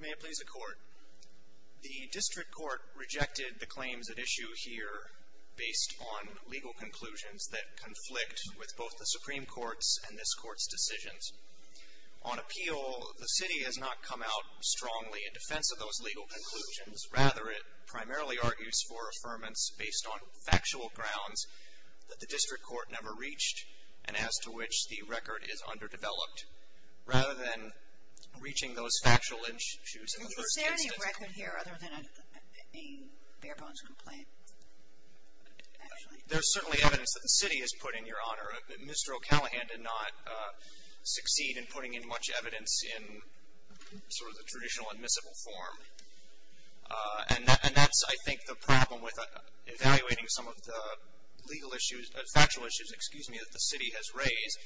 May it please the Court. The District Court rejected the claims at issue here based on legal conclusions that conflict with both the Supreme Court's and this Court's decisions. On appeal, the City has not come out strongly in defense of those legal conclusions. Rather, it primarily argues for affirmance based on factual grounds that the District Court never reached and as to which the record is underdeveloped. Rather than reaching those factual issues in the first instance. Is there any record here other than a bare bones complaint? There's certainly evidence that the City has put in, Your Honor. Mr. O'Callaghan did not succeed in putting in much evidence in sort of the traditional admissible form. And that's, I think, the problem with evaluating some of the legal issues, factual issues, excuse me, that the City has raised.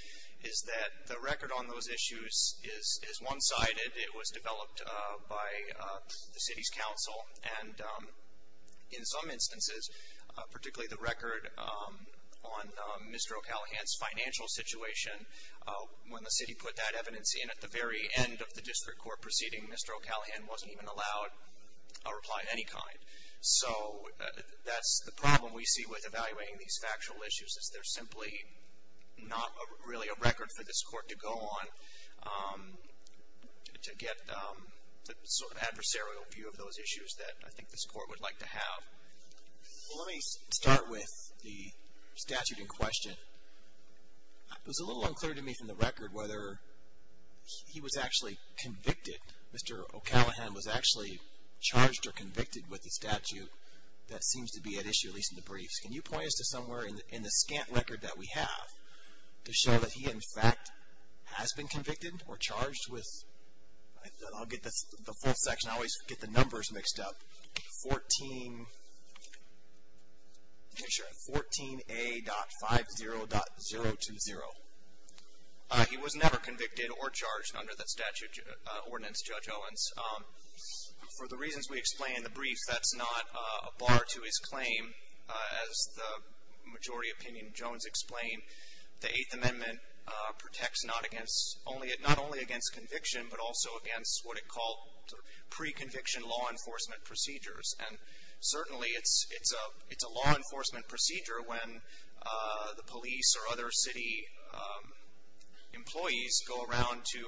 Is that the record on those issues is one-sided. It was developed by the City's counsel and in some instances, particularly the record on Mr. O'Callaghan's financial situation. When the City put that evidence in at the very end of the District Court proceeding, Mr. O'Callaghan wasn't even allowed a reply of any kind. So that's the problem we see with evaluating these factual issues is there's simply not really a record for this Court to go on to get the sort of adversarial view of those issues that I think this Court would like to have. Let me start with the statute in question. It was a little unclear to me from the record whether he was actually convicted. Mr. O'Callaghan was actually charged or convicted with the statute that seems to be at issue, at least in the briefs. Can you point us to somewhere in the scant record that we have to show that he, in fact, has been convicted or charged with? I'll get the full section. I always get the numbers mixed up. 14A.50.020. He was never convicted or charged under the statute ordinance, Judge Owens. For the reasons we explain in the briefs, that's not a bar to his claim. As the majority opinion Jones explained, the Eighth Amendment protects not only against conviction, but also against what it called pre-conviction law enforcement procedures. And certainly it's a law enforcement procedure when the police or other city employees go around to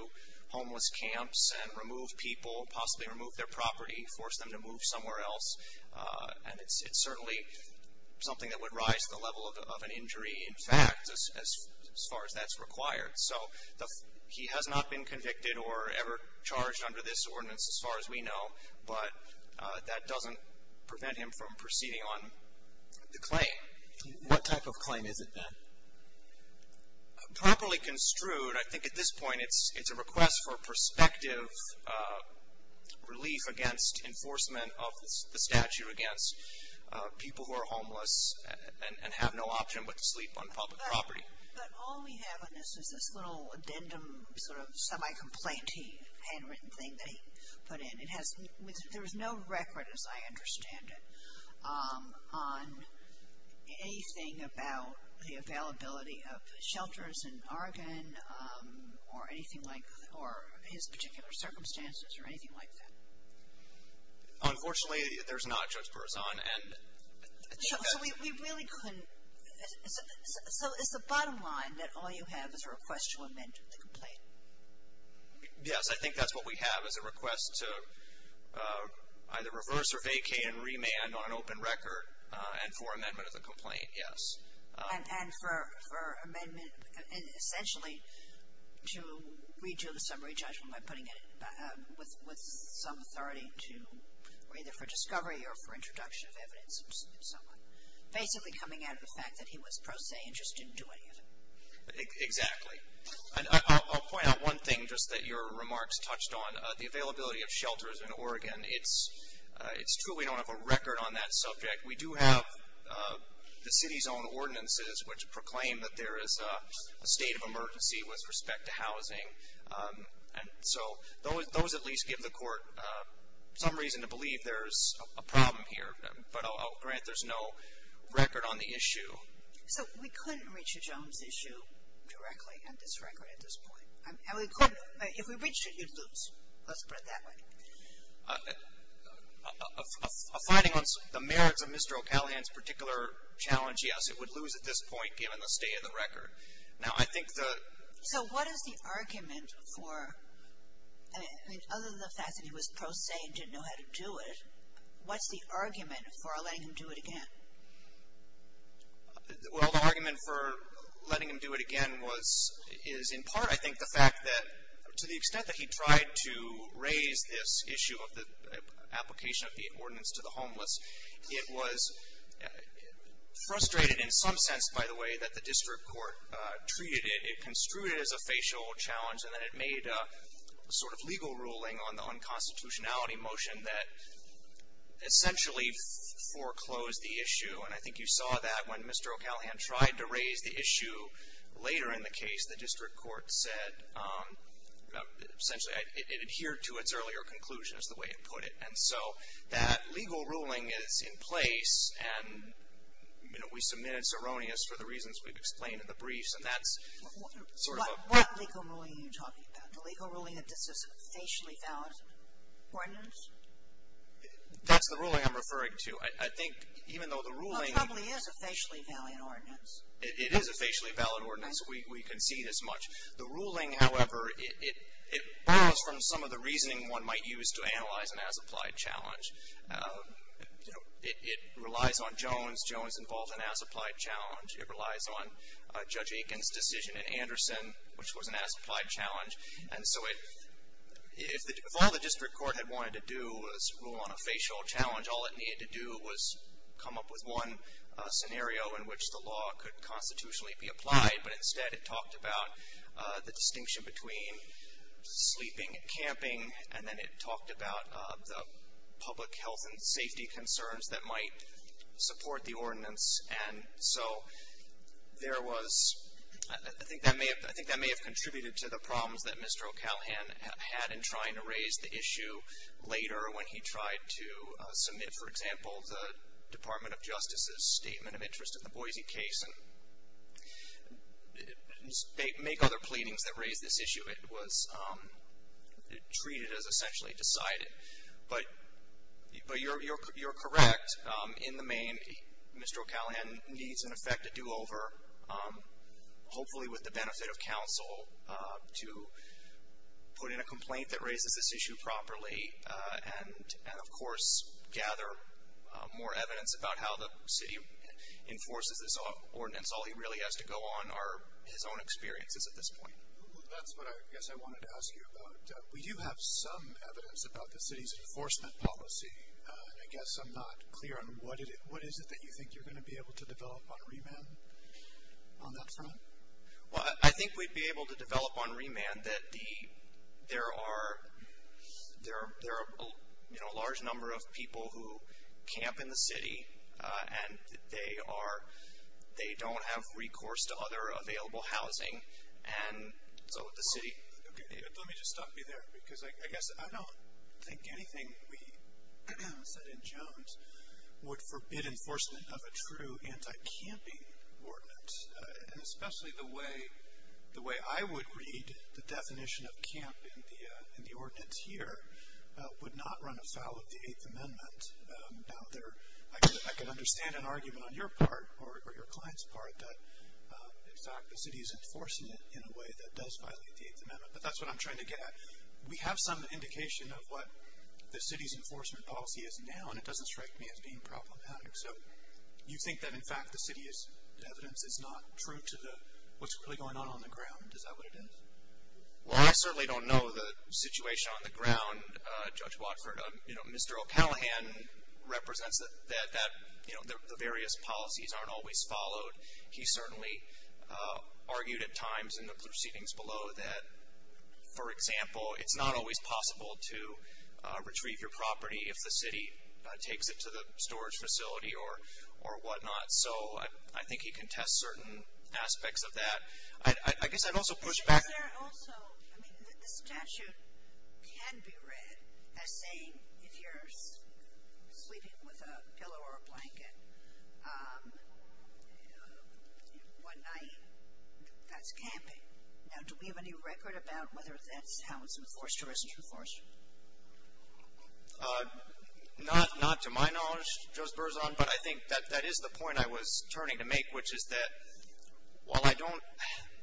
homeless camps and remove people, possibly remove their property, force them to move somewhere else. And it's certainly something that would rise to the level of an injury, in fact, as far as that's required. So he has not been convicted or ever charged under this ordinance as far as we know, but that doesn't prevent him from proceeding on the claim. What type of claim is it, then? Properly construed, I think at this point it's a request for prospective relief against enforcement of the statute against people who are homeless and have no option but to sleep on public property. But all we have on this is this little addendum sort of semi-complaint-y handwritten thing that he put in. There is no record, as I understand it, on anything about the availability of shelters in Oregon or anything like that, or his particular circumstances or anything like that. Unfortunately, there's not, Judge Berzon. So is the bottom line that all you have is a request to amend the complaint? Yes, I think that's what we have is a request to either reverse or vacate and remand on an open record and for amendment of the complaint, yes. And for amendment, essentially to redo the summary judgment by putting it with some authority to, either for discovery or for introduction of evidence and so on. Basically coming out of the fact that he was pro se and just didn't do any of it. Exactly. I'll point out one thing just that your remarks touched on, the availability of shelters in Oregon. It's true we don't have a record on that subject. We do have the city's own ordinances which proclaim that there is a state of emergency with respect to housing. And so those at least give the court some reason to believe there's a problem here. But I'll grant there's no record on the issue. So we couldn't reach a Jones issue directly on this record at this point. And we couldn't, if we reached it, you'd lose. Let's put it that way. A finding on the merits of Mr. O'Callaghan's particular challenge, yes, it would lose at this point given the state of the record. Now, I think the So what is the argument for, I mean, other than the fact that he was pro se and didn't know how to do it, what's the argument for letting him do it again? Well, the argument for letting him do it again was, is in part, I think, the fact that to the extent that he tried to raise this issue of the application of the ordinance to the homeless, it was frustrated in some sense, by the way, that the district court treated it. It construed it as a facial challenge, and then it made a sort of legal ruling on the unconstitutionality motion that essentially foreclosed the issue. And I think you saw that when Mr. O'Callaghan tried to raise the issue later in the case, the district court said essentially it adhered to its earlier conclusion, is the way it put it. And so that legal ruling is in place, and, you know, we submit it's erroneous for the reasons we've explained in the briefs, and that's sort of a What legal ruling are you talking about? The legal ruling that this is a facially valid ordinance? That's the ruling I'm referring to. I think even though the ruling Well, it probably is a facially valid ordinance. It is a facially valid ordinance. We concede as much. The ruling, however, it borrows from some of the reasoning one might use to analyze an as-applied challenge. It relies on Jones. Jones involved an as-applied challenge. It relies on Judge Aiken's decision in Anderson, which was an as-applied challenge. And so if all the district court had wanted to do was rule on a facial challenge, all it needed to do was come up with one scenario in which the law could constitutionally be applied, but instead it talked about the distinction between sleeping and camping, and then it talked about the public health and safety concerns that might support the ordinance. And so there was, I think that may have contributed to the problems that Mr. O'Callaghan had in trying to raise the issue later when he tried to submit, for example, the Department of Justice's statement of interest in the Boise case and make other pleadings that raised this issue. It was treated as essentially decided. But you're correct in the main. Mr. O'Callaghan needs, in effect, a do-over, hopefully with the benefit of counsel, to put in a complaint that raises this issue properly and, of course, gather more evidence about how the city enforces this ordinance. All he really has to go on are his own experiences at this point. That's what I guess I wanted to ask you about. We do have some evidence about the city's enforcement policy, and I guess I'm not clear on what is it that you think you're going to be able to develop on remand on that front? Well, I think we'd be able to develop on remand that there are, you know, a large number of people who camp in the city, and they don't have recourse to other available housing. And so the city. Okay. Let me just stop you there because I guess I don't think anything we said in Jones would forbid enforcement of a true anti-camping ordinance, and especially the way I would read the definition of camp in the ordinance here would not run afoul of the Eighth Amendment. Now, I can understand an argument on your part or your client's part that, in fact, the city is enforcing it in a way that does violate the Eighth Amendment, but that's what I'm trying to get at. We have some indication of what the city's enforcement policy is now, and it doesn't strike me as being problematic. So you think that, in fact, the city's evidence is not true to what's really going on on the ground. Is that what it is? Well, I certainly don't know the situation on the ground, Judge Watford. You know, Mr. O'Callaghan represents that the various policies aren't always followed. He certainly argued at times in the proceedings below that, for example, it's not always possible to retrieve your property if the city takes it to the storage facility or whatnot. So I think he can test certain aspects of that. I guess I'd also push back. I mean, the statute can be read as saying if you're sleeping with a pillow or a blanket one night, that's camping. Now, do we have any record about whether that's how it's enforced or isn't enforced? Not to my knowledge, Judge Berzon, but I think that is the point I was turning to make, which is that while I don't,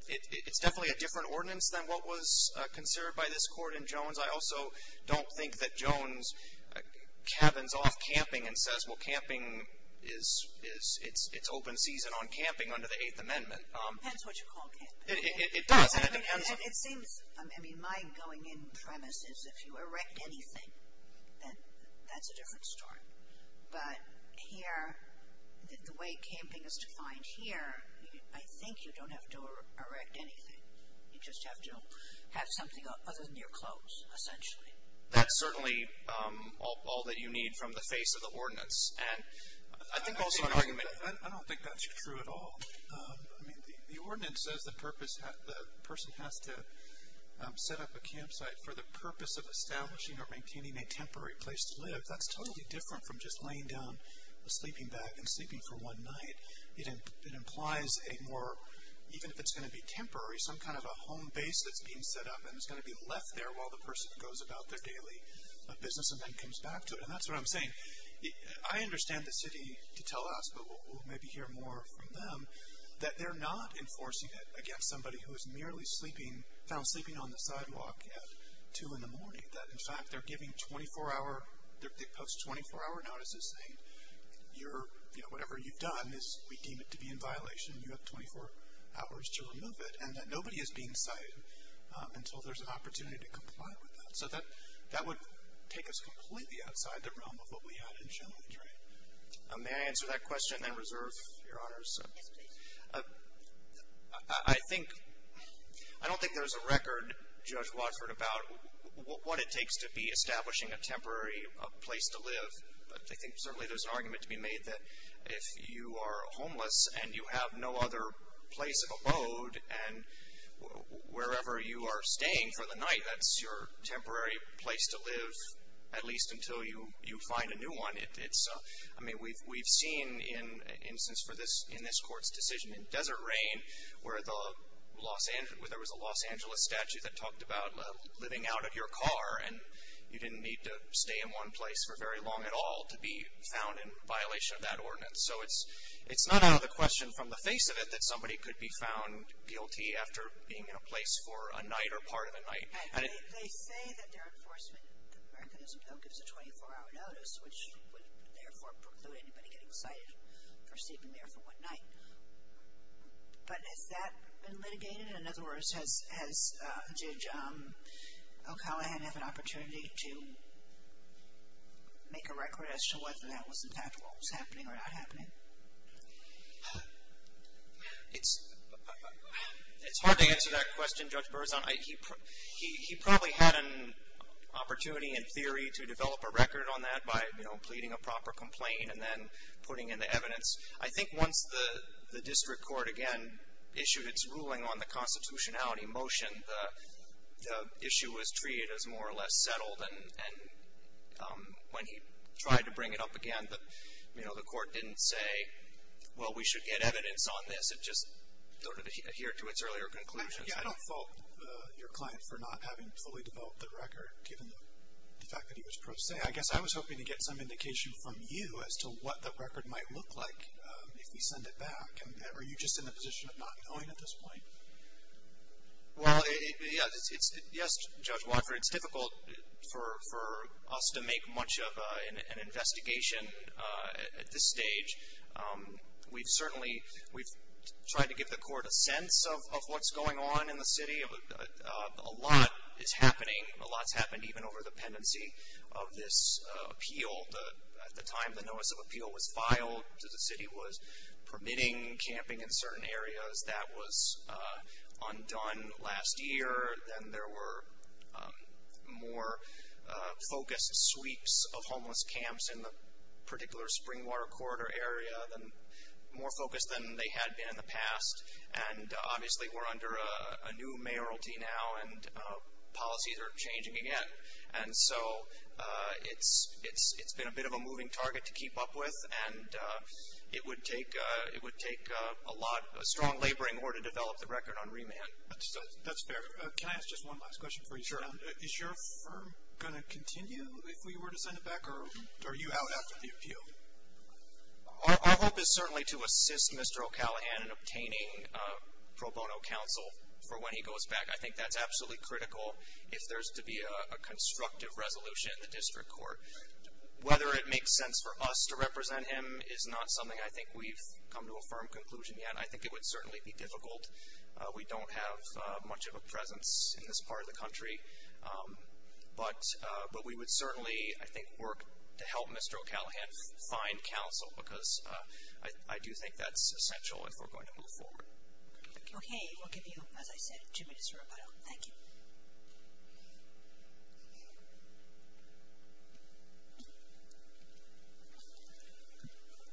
it's definitely a different ordinance than what was considered by this court in Jones. I also don't think that Jones cabins off camping and says, well, camping is, it's open season on camping under the Eighth Amendment. Depends what you call camping. It does, and it depends. It seems, I mean, my going-in premise is if you erect anything, then that's a different story. But here, the way camping is defined here, I think you don't have to erect anything. You just have to have something other than your clothes, essentially. That's certainly all that you need from the face of the ordinance. And I think also an argument. I don't think that's true at all. I mean, the ordinance says the person has to set up a campsite for the purpose of establishing or maintaining a temporary place to live. That's totally different from just laying down a sleeping bag and sleeping for one night. It implies a more, even if it's going to be temporary, some kind of a home base that's being set up and is going to be left there while the person goes about their daily business and then comes back to it. And that's what I'm saying. I understand the city to tell us, but we'll maybe hear more from them, that they're not enforcing it against somebody who is merely sleeping, found sleeping on the sidewalk at 2 in the morning. That, in fact, they're giving 24-hour, they post 24-hour notices saying you're, you know, whatever you've done is, we deem it to be in violation. You have 24 hours to remove it. And that nobody is being cited until there's an opportunity to comply with that. So that would take us completely outside the realm of what we had in challenge, right? Yes, please. I think, I don't think there's a record, Judge Watford, about what it takes to be establishing a temporary place to live. I think certainly there's an argument to be made that if you are homeless and you have no other place of abode and wherever you are staying for the night, that's your temporary place to live at least until you find a new one. I mean, we've seen in instance in this court's decision in Desert Rain where there was a Los Angeles statute that talked about living out of your car and you didn't need to stay in one place for very long at all to be found in violation of that ordinance. So it's not out of the question from the face of it that somebody could be found guilty after being in a place for a night or part of a night. They say that their enforcement mechanism, though, gives a 24-hour notice, which would therefore preclude anybody getting cited for sleeping there for one night. But has that been litigated? In other words, does Judge O'Callaghan have an opportunity to make a record as to whether that was in fact what was happening or not happening? It's hard to answer that question, Judge Berzon. He probably had an opportunity in theory to develop a record on that by, you know, pleading a proper complaint and then putting in the evidence. I think once the district court again issued its ruling on the constitutionality motion, the issue was treated as more or less settled. And when he tried to bring it up again, you know, the court didn't say, well, we should get evidence on this. It just sort of adhered to its earlier conclusions. But you don't fault your client for not having fully developed the record, given the fact that he was pro se. I guess I was hoping to get some indication from you as to what the record might look like if we send it back. Are you just in a position of not knowing at this point? Well, yes, Judge Watford, it's difficult for us to make much of an investigation at this stage. We've certainly tried to give the court a sense of what's going on in the city. A lot is happening. A lot's happened even over the pendency of this appeal. At the time the notice of appeal was filed, the city was permitting camping in certain areas. That was undone last year. And there were more focused sweeps of homeless camps in the particular spring water corridor area, more focused than they had been in the past. And obviously we're under a new mayoralty now, and policies are changing again. And so it's been a bit of a moving target to keep up with, and it would take a lot of strong laboring in order to develop the record on remand. That's fair. Can I ask just one last question for you? Sure. Is your firm going to continue if we were to send it back, or are you out after the appeal? Our hope is certainly to assist Mr. O'Callaghan in obtaining pro bono counsel for when he goes back. I think that's absolutely critical if there's to be a constructive resolution in the district court. Whether it makes sense for us to represent him is not something I think we've come to a firm conclusion yet. I think it would certainly be difficult. We don't have much of a presence in this part of the country. But we would certainly, I think, work to help Mr. O'Callaghan find counsel, because I do think that's essential if we're going to move forward. Okay, we'll give you, as I said, two minutes to rebuttal. Thank you.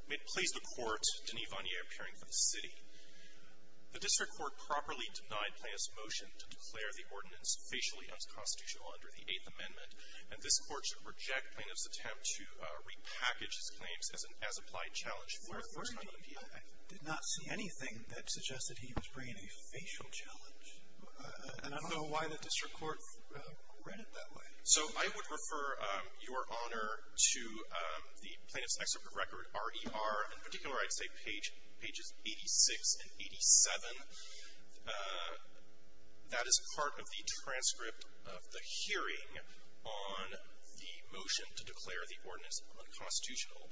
May it please the Court, Denis Vanier appearing for the city. The district court properly denied plaintiff's motion to declare the ordinance facially unconstitutional under the Eighth Amendment, and this Court should reject plaintiff's attempt to repackage his claims as an as-applied challenge for a first time appeal. I did not see anything that suggested he was bringing a facial challenge. And I don't know why the district court read it that way. So I would refer your Honor to the plaintiff's excerpt of record, RER. In particular, I'd say pages 86 and 87. That is part of the transcript of the hearing on the motion to declare the ordinance unconstitutional.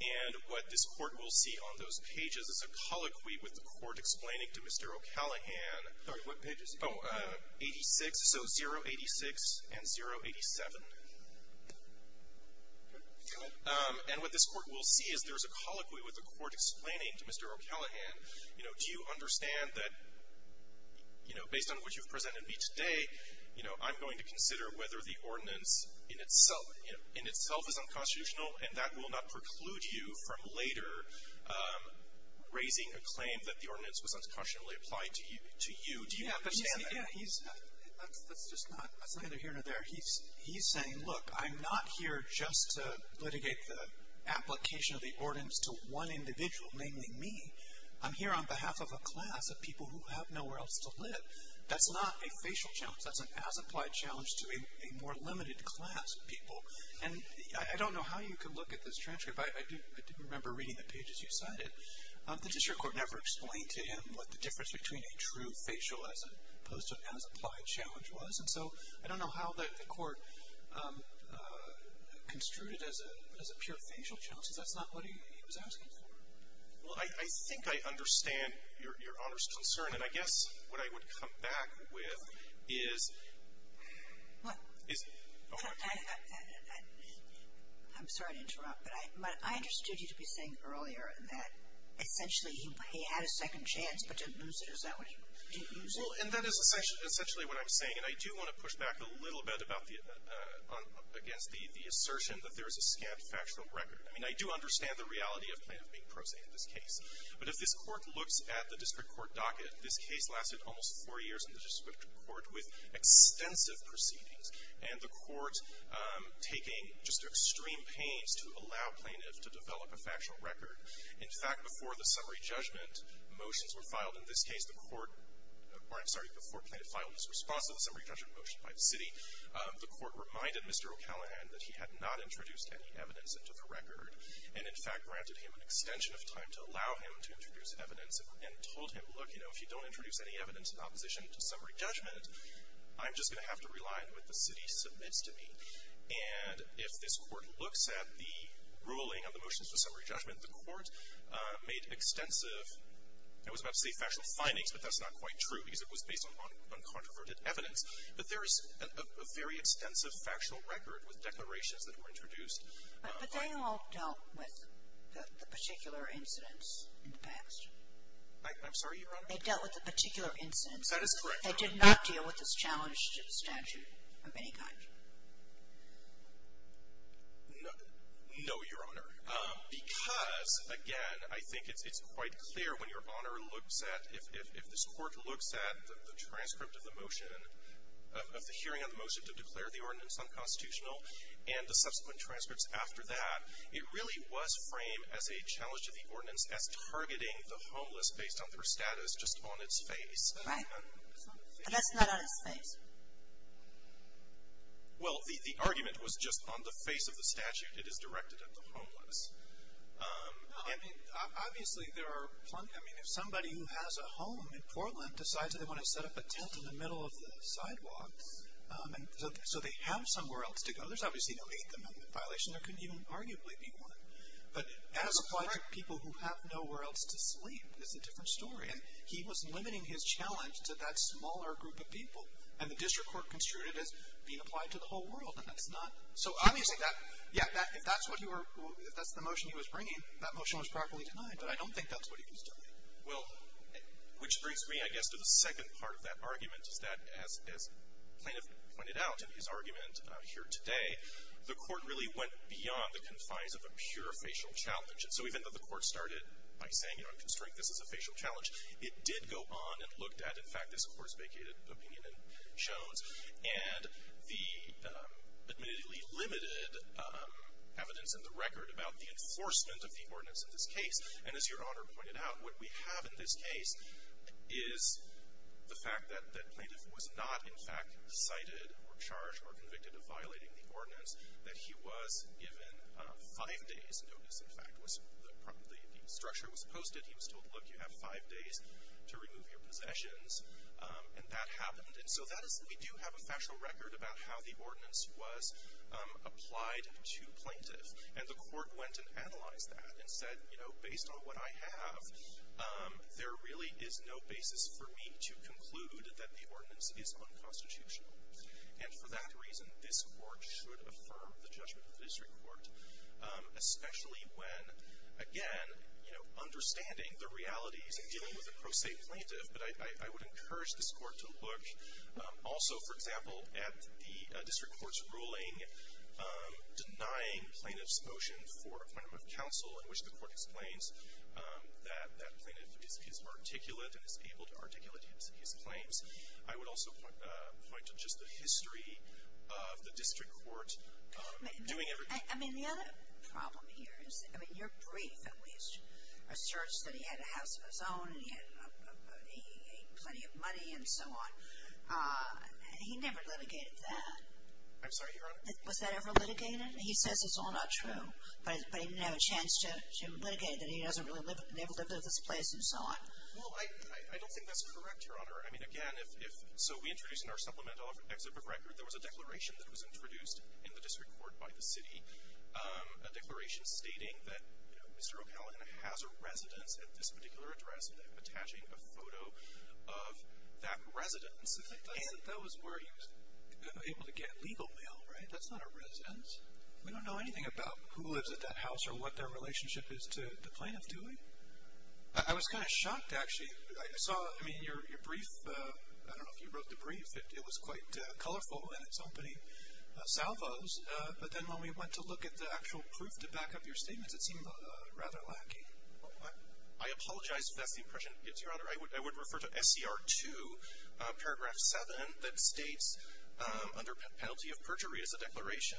And what this Court will see on those pages is a colloquy with the Court explaining to Mr. O'Callaghan 86, so 086 and 087. And what this Court will see is there's a colloquy with the Court explaining to Mr. O'Callaghan, you know, do you understand that, you know, based on what you've presented me today, you know, I'm going to consider whether the ordinance in itself is unconstitutional, and that will not preclude you from later raising a claim that the ordinance was unconstitutionally applied to you. Do you understand that? He's, that's just not, that's neither here nor there. He's saying, look, I'm not here just to litigate the application of the ordinance to one individual, namely me. I'm here on behalf of a class of people who have nowhere else to live. That's not a facial challenge. That's an as-applied challenge to a more limited class of people. And I don't know how you can look at this transcript, but I do remember reading the pages you cited. The district court never explained to him what the difference between a true facial as opposed to an as-applied challenge was. And so I don't know how the court construed it as a pure facial challenge, because that's not what he was asking for. Well, I think I understand Your Honor's concern. And I guess what I would come back with is, is, okay. I'm sorry to interrupt, but I understood you to be saying earlier that essentially he had a second chance, but didn't lose it. Is that what you, didn't lose it? Well, and that is essentially what I'm saying. And I do want to push back a little bit about the, against the assertion that there is a scant factual record. I mean, I do understand the reality of plaintiff being prosaic in this case. But if this court looks at the district court docket, this case lasted almost four years in the district court with extensive proceedings, and the court taking just extreme pains to allow plaintiff to develop a factual record. In fact, before the summary judgment motions were filed in this case, the court, or I'm sorry, before plaintiff filed his response to the summary judgment motion by the city, the court reminded Mr. O'Callaghan that he had not introduced any evidence into the record, and in fact granted him an extension of time to allow him to introduce evidence, and told him, look, you know, if you don't introduce any evidence in opposition to summary judgment, I'm just going to have to rely on what the city submits to me. And if this court looks at the ruling of the motions to summary judgment, the court made extensive, I was about to say factual findings, but that's not quite true, because it was based on controverted evidence. But there is a very extensive factual record with declarations that were introduced. But they all dealt with the particular incidents in the past. I'm sorry, Your Honor? They dealt with the particular incidents. That is correct, Your Honor. They did not deal with this challenged statute of any kind. No, Your Honor, because, again, I think it's quite clear when Your Honor looks at, if this court looks at the transcript of the motion, of the hearing on the motion to declare the ordinance unconstitutional, and the subsequent transcripts after that, it really was framed as a challenge to the ordinance as targeting the homeless based on their status, just on its face. Right. But that's not on its face. Well, the argument was just on the face of the statute. It is directed at the homeless. No, I mean, obviously there are plenty, I mean, if somebody who has a home in Portland decides that they want to set up a tent in the middle of the sidewalk so they have somewhere else to go, there's obviously no Eighth Amendment violation. There couldn't even arguably be one. But as applied to people who have nowhere else to sleep is a different story. And he was limiting his challenge to that smaller group of people. And the district court construed it as being applied to the whole world. And that's not, so obviously that, yeah, if that's what you were, if that's the motion he was bringing, that motion was properly denied. But I don't think that's what he was doing. Well, which brings me, I guess, to the second part of that argument, is that as plaintiff pointed out in his argument here today, the court really went beyond the confines of a pure facial challenge. And so even though the court started by saying, you know, I'm constrained, this is a facial challenge, it did go on and looked at, in fact, this court's vacated opinion in Jones and the admittedly limited evidence in the record about the enforcement of the ordinance in this case. And as Your Honor pointed out, what we have in this case is the fact that plaintiff was not, in fact, cited or charged or convicted of violating the ordinance, that he was given five days' notice, in fact, the structure was posted. He was told, look, you have five days to remove your possessions. And that happened. And so that is, we do have a factual record about how the ordinance was applied to plaintiff. And the court went and analyzed that and said, you know, based on what I have, there really is no basis for me to conclude that the ordinance is unconstitutional. And for that reason, this court should affirm the judgment of the district court, especially when, again, you know, understanding the realities of dealing with a pro se plaintiff. But I would encourage this court to look also, for example, at the district court's ruling denying plaintiff's motion for appointment of counsel, in which the court explains that that plaintiff is articulate and is able to articulate his claims. I would also point to just the history of the district court doing everything. I mean, the other problem here is, I mean, you're brief at least, asserts that he had a house of his own and he had plenty of money and so on. He never litigated that. I'm sorry, Your Honor? Was that ever litigated? He says it's all not true, but he didn't have a chance to litigate it. He doesn't really live in this place and so on. Well, I don't think that's correct, Your Honor. I mean, again, so we introduced in our supplemental exhibit record, there was a declaration that was introduced in the district court by the city, a declaration stating that, you know, Mr. O'Callaghan has a residence at this particular address and attaching a photo of that residence. That was where he was able to get legal mail, right? That's not a residence. We don't know anything about who lives at that house or what their relationship is to the plaintiff, do we? I was kind of shocked, actually. I saw, I mean, your brief, I don't know if you wrote the brief. It was quite colorful and it's opening salvos, but then when we went to look at the actual proof to back up your statements, I apologize if that's the impression it gives, Your Honor. I would refer to SCR 2, paragraph 7, that states under penalty of perjury is a declaration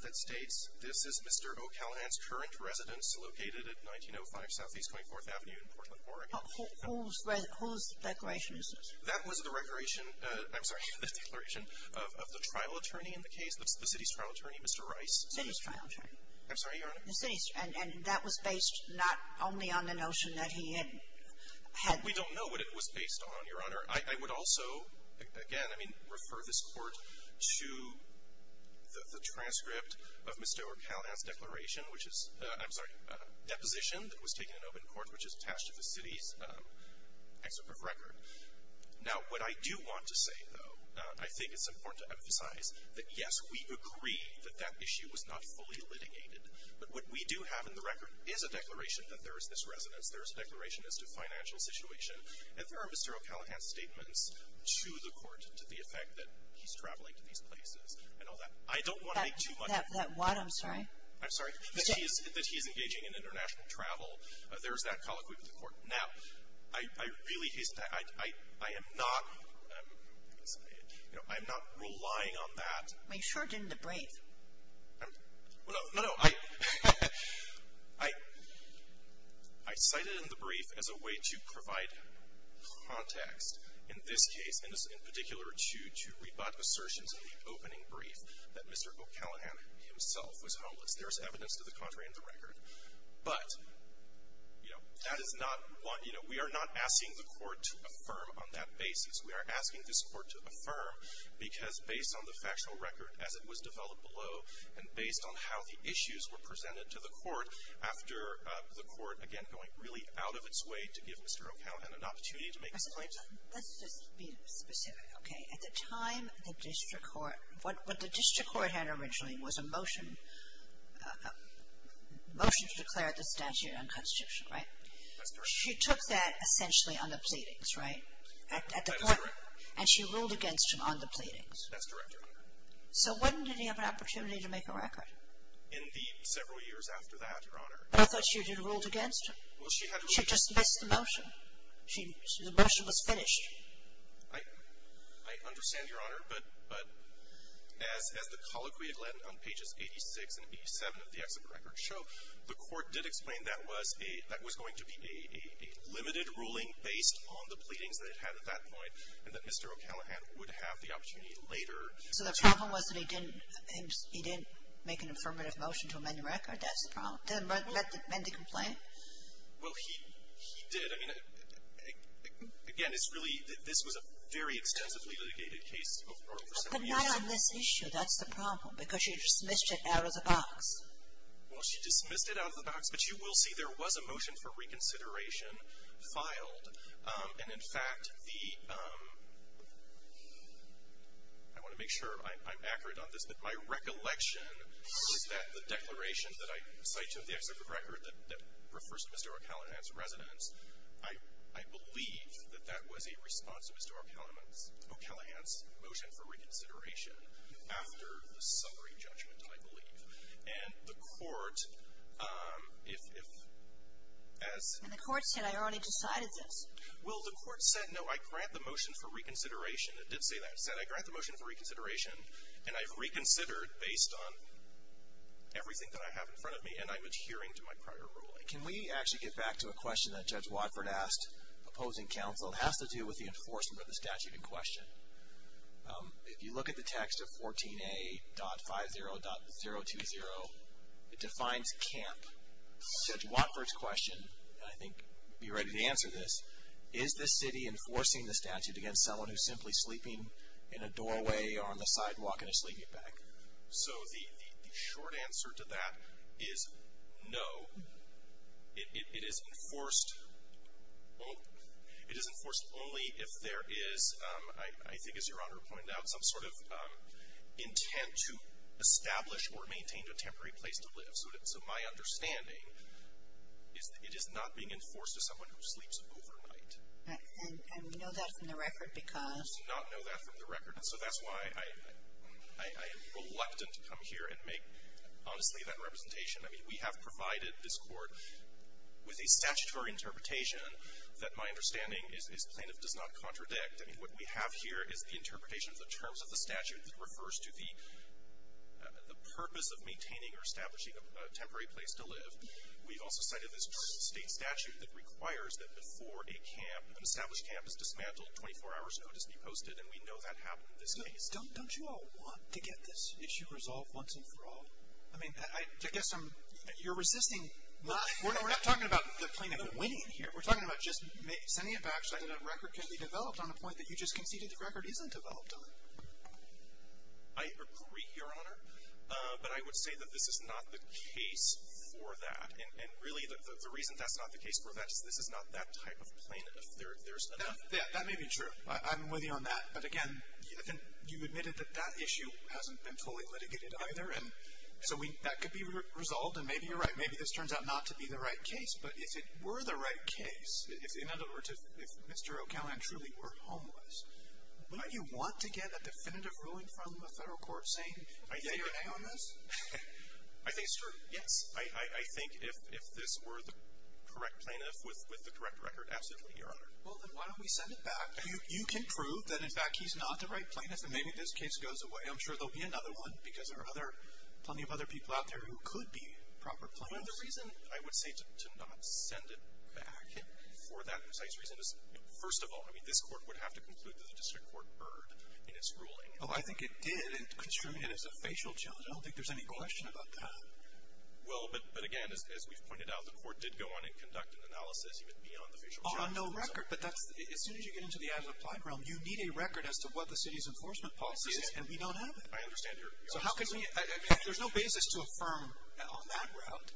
that states this is Mr. O'Callaghan's current residence located at 1905 Southeast 24th Avenue in Portland, Oregon. Whose declaration is this? That was the declaration of the trial attorney in the case, the city's trial attorney, Mr. Rice. The city's trial attorney. I'm sorry, Your Honor. The city's, and that was based not only on the notion that he had. We don't know what it was based on, Your Honor. I would also, again, I mean, refer this court to the transcript of Mr. O'Callaghan's declaration, which is, I'm sorry, deposition that was taken in open court, which is attached to the city's excerpt of record. Now, what I do want to say, though, I think it's important to emphasize that, yes, we agree that that issue was not fully litigated. But what we do have in the record is a declaration that there is this residence. There is a declaration as to financial situation. And there are Mr. O'Callaghan's statements to the court to the effect that he's traveling to these places and all that. I don't want to make too much. That what? I'm sorry. I'm sorry. That he's engaging in international travel. There's that colloquy with the court. Now, I really, I am not, you know, I'm not relying on that. I mean, you sure didn't debrave. Well, no. No, no. I cited in the brief as a way to provide context in this case and in particular to rebut assertions in the opening brief that Mr. O'Callaghan himself was homeless. There is evidence to the contrary in the record. But, you know, that is not what, you know, we are not asking the court to affirm on that basis. We are asking this court to affirm because based on the factual record as it was developed below and based on how the issues were presented to the court after the court, again, going really out of its way to give Mr. O'Callaghan an opportunity to make his point. Let's just be specific, okay. At the time the district court, what the district court had originally was a motion, a motion to declare the statute unconstitutional, right? That's correct. She took that essentially on the pleadings, right? That is correct. And she ruled against him on the pleadings. That's correct, Your Honor. So when did he have an opportunity to make a record? Indeed, several years after that, Your Honor. But I thought she had ruled against him. She just missed the motion. The motion was finished. I understand, Your Honor, but as the colloquy on pages 86 and 87 of the exit record show, the court did explain that was going to be a limited ruling based on the pleadings that it had at that point and that Mr. O'Callaghan would have the opportunity later. So the problem was that he didn't make an affirmative motion to amend the record. That's the problem. Did he amend the complaint? Well, he did. I mean, again, this was a very extensively litigated case over several years. But not on this issue. That's the problem because she dismissed it out of the box. Well, she dismissed it out of the box, but you will see there was a motion for reconsideration filed. And, in fact, the ‑‑ I want to make sure I'm accurate on this, but my recollection was that the declaration that I cite to the exit record that refers to Mr. O'Callaghan's residence, I believe that that was a response to Mr. O'Callaghan's motion for reconsideration after the summary judgment, I believe. And the court, if ‑‑ And the court said, I already decided this. Well, the court said, no, I grant the motion for reconsideration. It did say that. It said, I grant the motion for reconsideration, and I've reconsidered based on everything that I have in front of me, and I'm adhering to my prior ruling. Can we actually get back to a question that Judge Watford asked opposing counsel? It has to do with the enforcement of the statute in question. If you look at the text of 14A.50.020, it defines camp. Judge Watford's question, and I think you're ready to answer this, is the city enforcing the statute against someone who's simply sleeping in a doorway or on the sidewalk in a sleeping bag? So the short answer to that is no. It is enforced only if there is, I think as Your Honor pointed out, some sort of intent to establish or maintain a temporary place to live. So my understanding is that it is not being enforced to someone who sleeps overnight. And we know that from the record because? We do not know that from the record. And so that's why I am reluctant to come here and make, honestly, that representation. I mean, we have provided this Court with a statutory interpretation that my understanding is plaintiff does not contradict. I mean, what we have here is the interpretation of the terms of the statute that refers to the purpose of maintaining or establishing a temporary place to live. We've also cited this state statute that requires that before a camp, an established camp, is dismantled, 24 hours notice be posted. And we know that happened in this case. Don't you all want to get this issue resolved once and for all? I mean, I guess I'm, you're resisting, we're not talking about the plaintiff winning here. We're talking about just sending it back so that a record can be developed on a point that you just conceded the record isn't developed on. I agree, Your Honor. But I would say that this is not the case for that. And really the reason that's not the case for that is this is not that type of plaintiff. There's enough. Yeah, that may be true. I'm with you on that. But again, you admitted that that issue hasn't been fully litigated either. And so that could be resolved. And maybe you're right. Maybe this turns out not to be the right case. But if it were the right case, in other words, if Mr. O'Callaghan truly were homeless, wouldn't you want to get a definitive ruling from the federal court saying A or A on this? I think it's true, yes. I think if this were the correct plaintiff with the correct record, absolutely, Your Honor. Well, then why don't we send it back? You can prove that, in fact, he's not the right plaintiff and maybe this case goes away. I'm sure there'll be another one because there are other, plenty of other people out there who could be proper plaintiffs. Well, the reason I would say to not send it back for that precise reason is, first of all, I mean this court would have to conclude that the district court erred in its ruling. Oh, I think it did. It construed it as a facial challenge. I don't think there's any question about that. Well, but again, as we've pointed out, the court did go on and conduct an analysis, even beyond the facial challenge. On no record. But that's, as soon as you get into the as-applied realm, you need a record as to what the city's enforcement policy is, and we don't have it. I understand. So how can we, I mean, there's no basis to affirm on that route.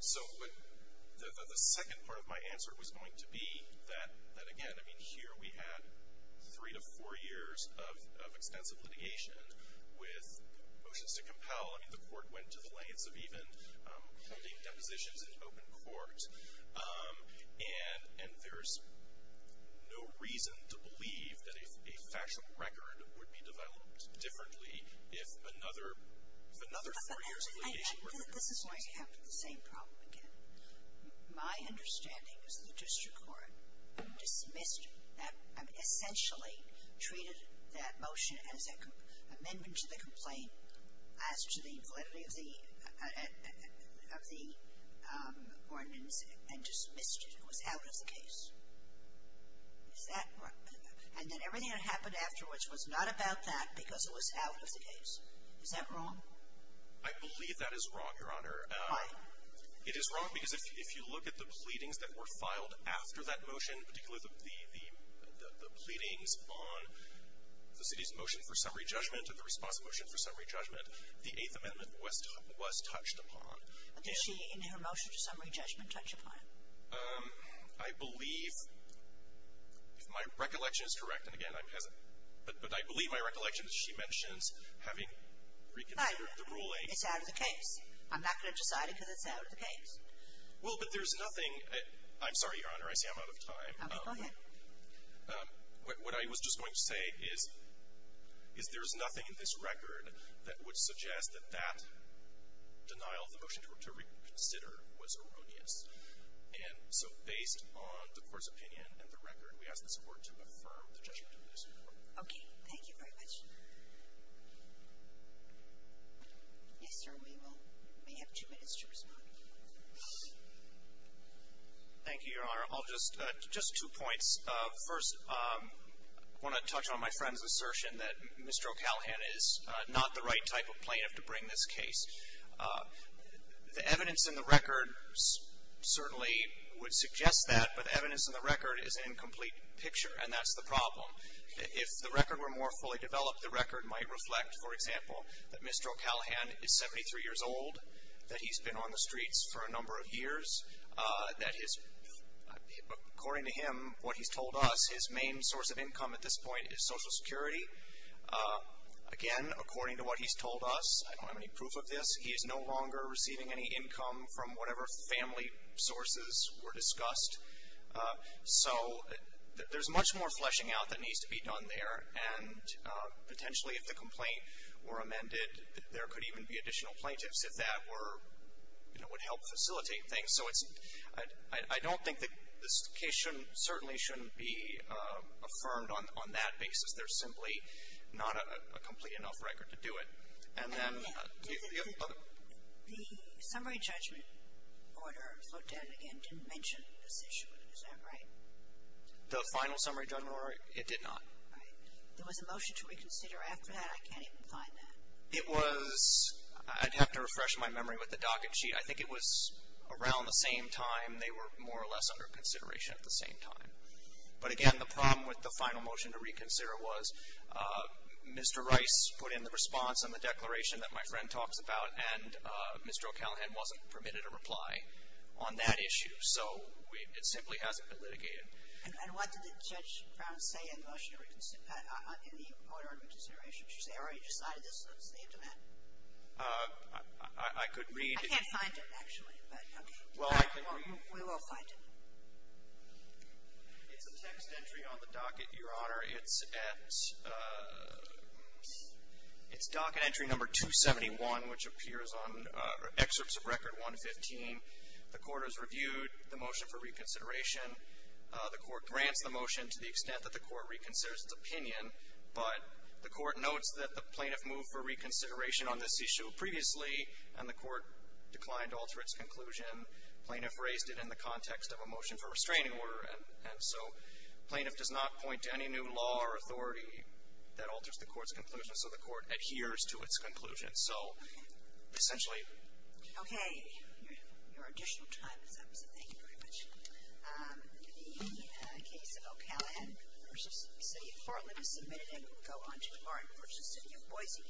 So, but the second part of my answer was going to be that, again, I mean, here we had three to four years of extensive litigation with motions to compel. I mean, the court went to the lengths of even holding depositions in open court. And there's no reason to believe that a factual record would be developed differently if another four years of litigation were to occur. But this is where I come to the same problem again. My understanding is that the district court dismissed that, I mean essentially treated that motion as an amendment to the complaint, as to the validity of the ordinance, and dismissed it. It was out of the case. Is that right? And that everything that happened afterwards was not about that because it was out of the case. Is that wrong? I believe that is wrong, Your Honor. Why? It is wrong because if you look at the pleadings that were filed after that motion, particularly the pleadings on the city's motion for summary judgment and the response motion for summary judgment, the Eighth Amendment was touched upon. Did she, in her motion to summary judgment, touch upon it? I believe, if my recollection is correct, and again, I'm hesitant, but I believe my recollection is she mentions having reconsidered the ruling. It's out of the case. I'm not going to decide it because it's out of the case. Well, but there's nothing, I'm sorry, Your Honor, I see I'm out of time. Okay, go ahead. What I was just going to say is there is nothing in this record that would suggest that that denial of the motion to reconsider was erroneous. And so based on the Court's opinion and the record, we ask this Court to affirm the judgment of this Court. Okay, thank you very much. Yes, sir, we have two minutes to respond. Thank you, Your Honor. I'll just, just two points. First, I want to touch on my friend's assertion that Mr. O'Callaghan is not the right type of plaintiff to bring this case. The evidence in the record certainly would suggest that, but the evidence in the record is an incomplete picture, and that's the problem. If the record were more fully developed, the record might reflect, for example, that Mr. O'Callaghan is 73 years old, that he's been on the streets for a number of years, that his, according to him, what he's told us, his main source of income at this point is Social Security. Again, according to what he's told us, I don't have any proof of this, he is no longer receiving any income from whatever family sources were discussed. So there's much more fleshing out that needs to be done there, and potentially if the complaint were amended, there could even be additional plaintiffs if that were, you know, would help facilitate things. So it's, I don't think that this case shouldn't, certainly shouldn't be affirmed on that basis. There's simply not a complete enough record to do it. And then the other one. The summary judgment order, float down again, didn't mention this issue, is that right? The final summary judgment order, it did not. All right. There was a motion to reconsider after that, I can't even find that. It was, I'd have to refresh my memory with the docket sheet. I think it was around the same time, they were more or less under consideration at the same time. But again, the problem with the final motion to reconsider was Mr. Rice put in the response on the declaration that my friend talks about, and Mr. O'Callaghan wasn't permitted a reply on that issue. So it simply hasn't been litigated. And what did Judge Brown say in the motion to reconsider, in the order of reconsideration? Did she say, oh, you decided this, let's leave them at it? I could read. I can't find it, actually, but okay. We will find it. It's a text entry on the docket, Your Honor. It's at, it's docket entry number 271, which appears on excerpts of record 115. The court has reviewed the motion for reconsideration. The court grants the motion to the extent that the court reconsiders its opinion, but the court notes that the plaintiff moved for reconsideration on this issue previously, and the court declined to alter its conclusion. Plaintiff raised it in the context of a motion for restraining order, and so plaintiff does not point to any new law or authority that alters the court's conclusion. So the court adheres to its conclusion. So essentially. Okay. Your additional time is up, so thank you very much. The case of O'Callaghan v. City of Portland is submitted, and we will go on to Martin v. City of Boise.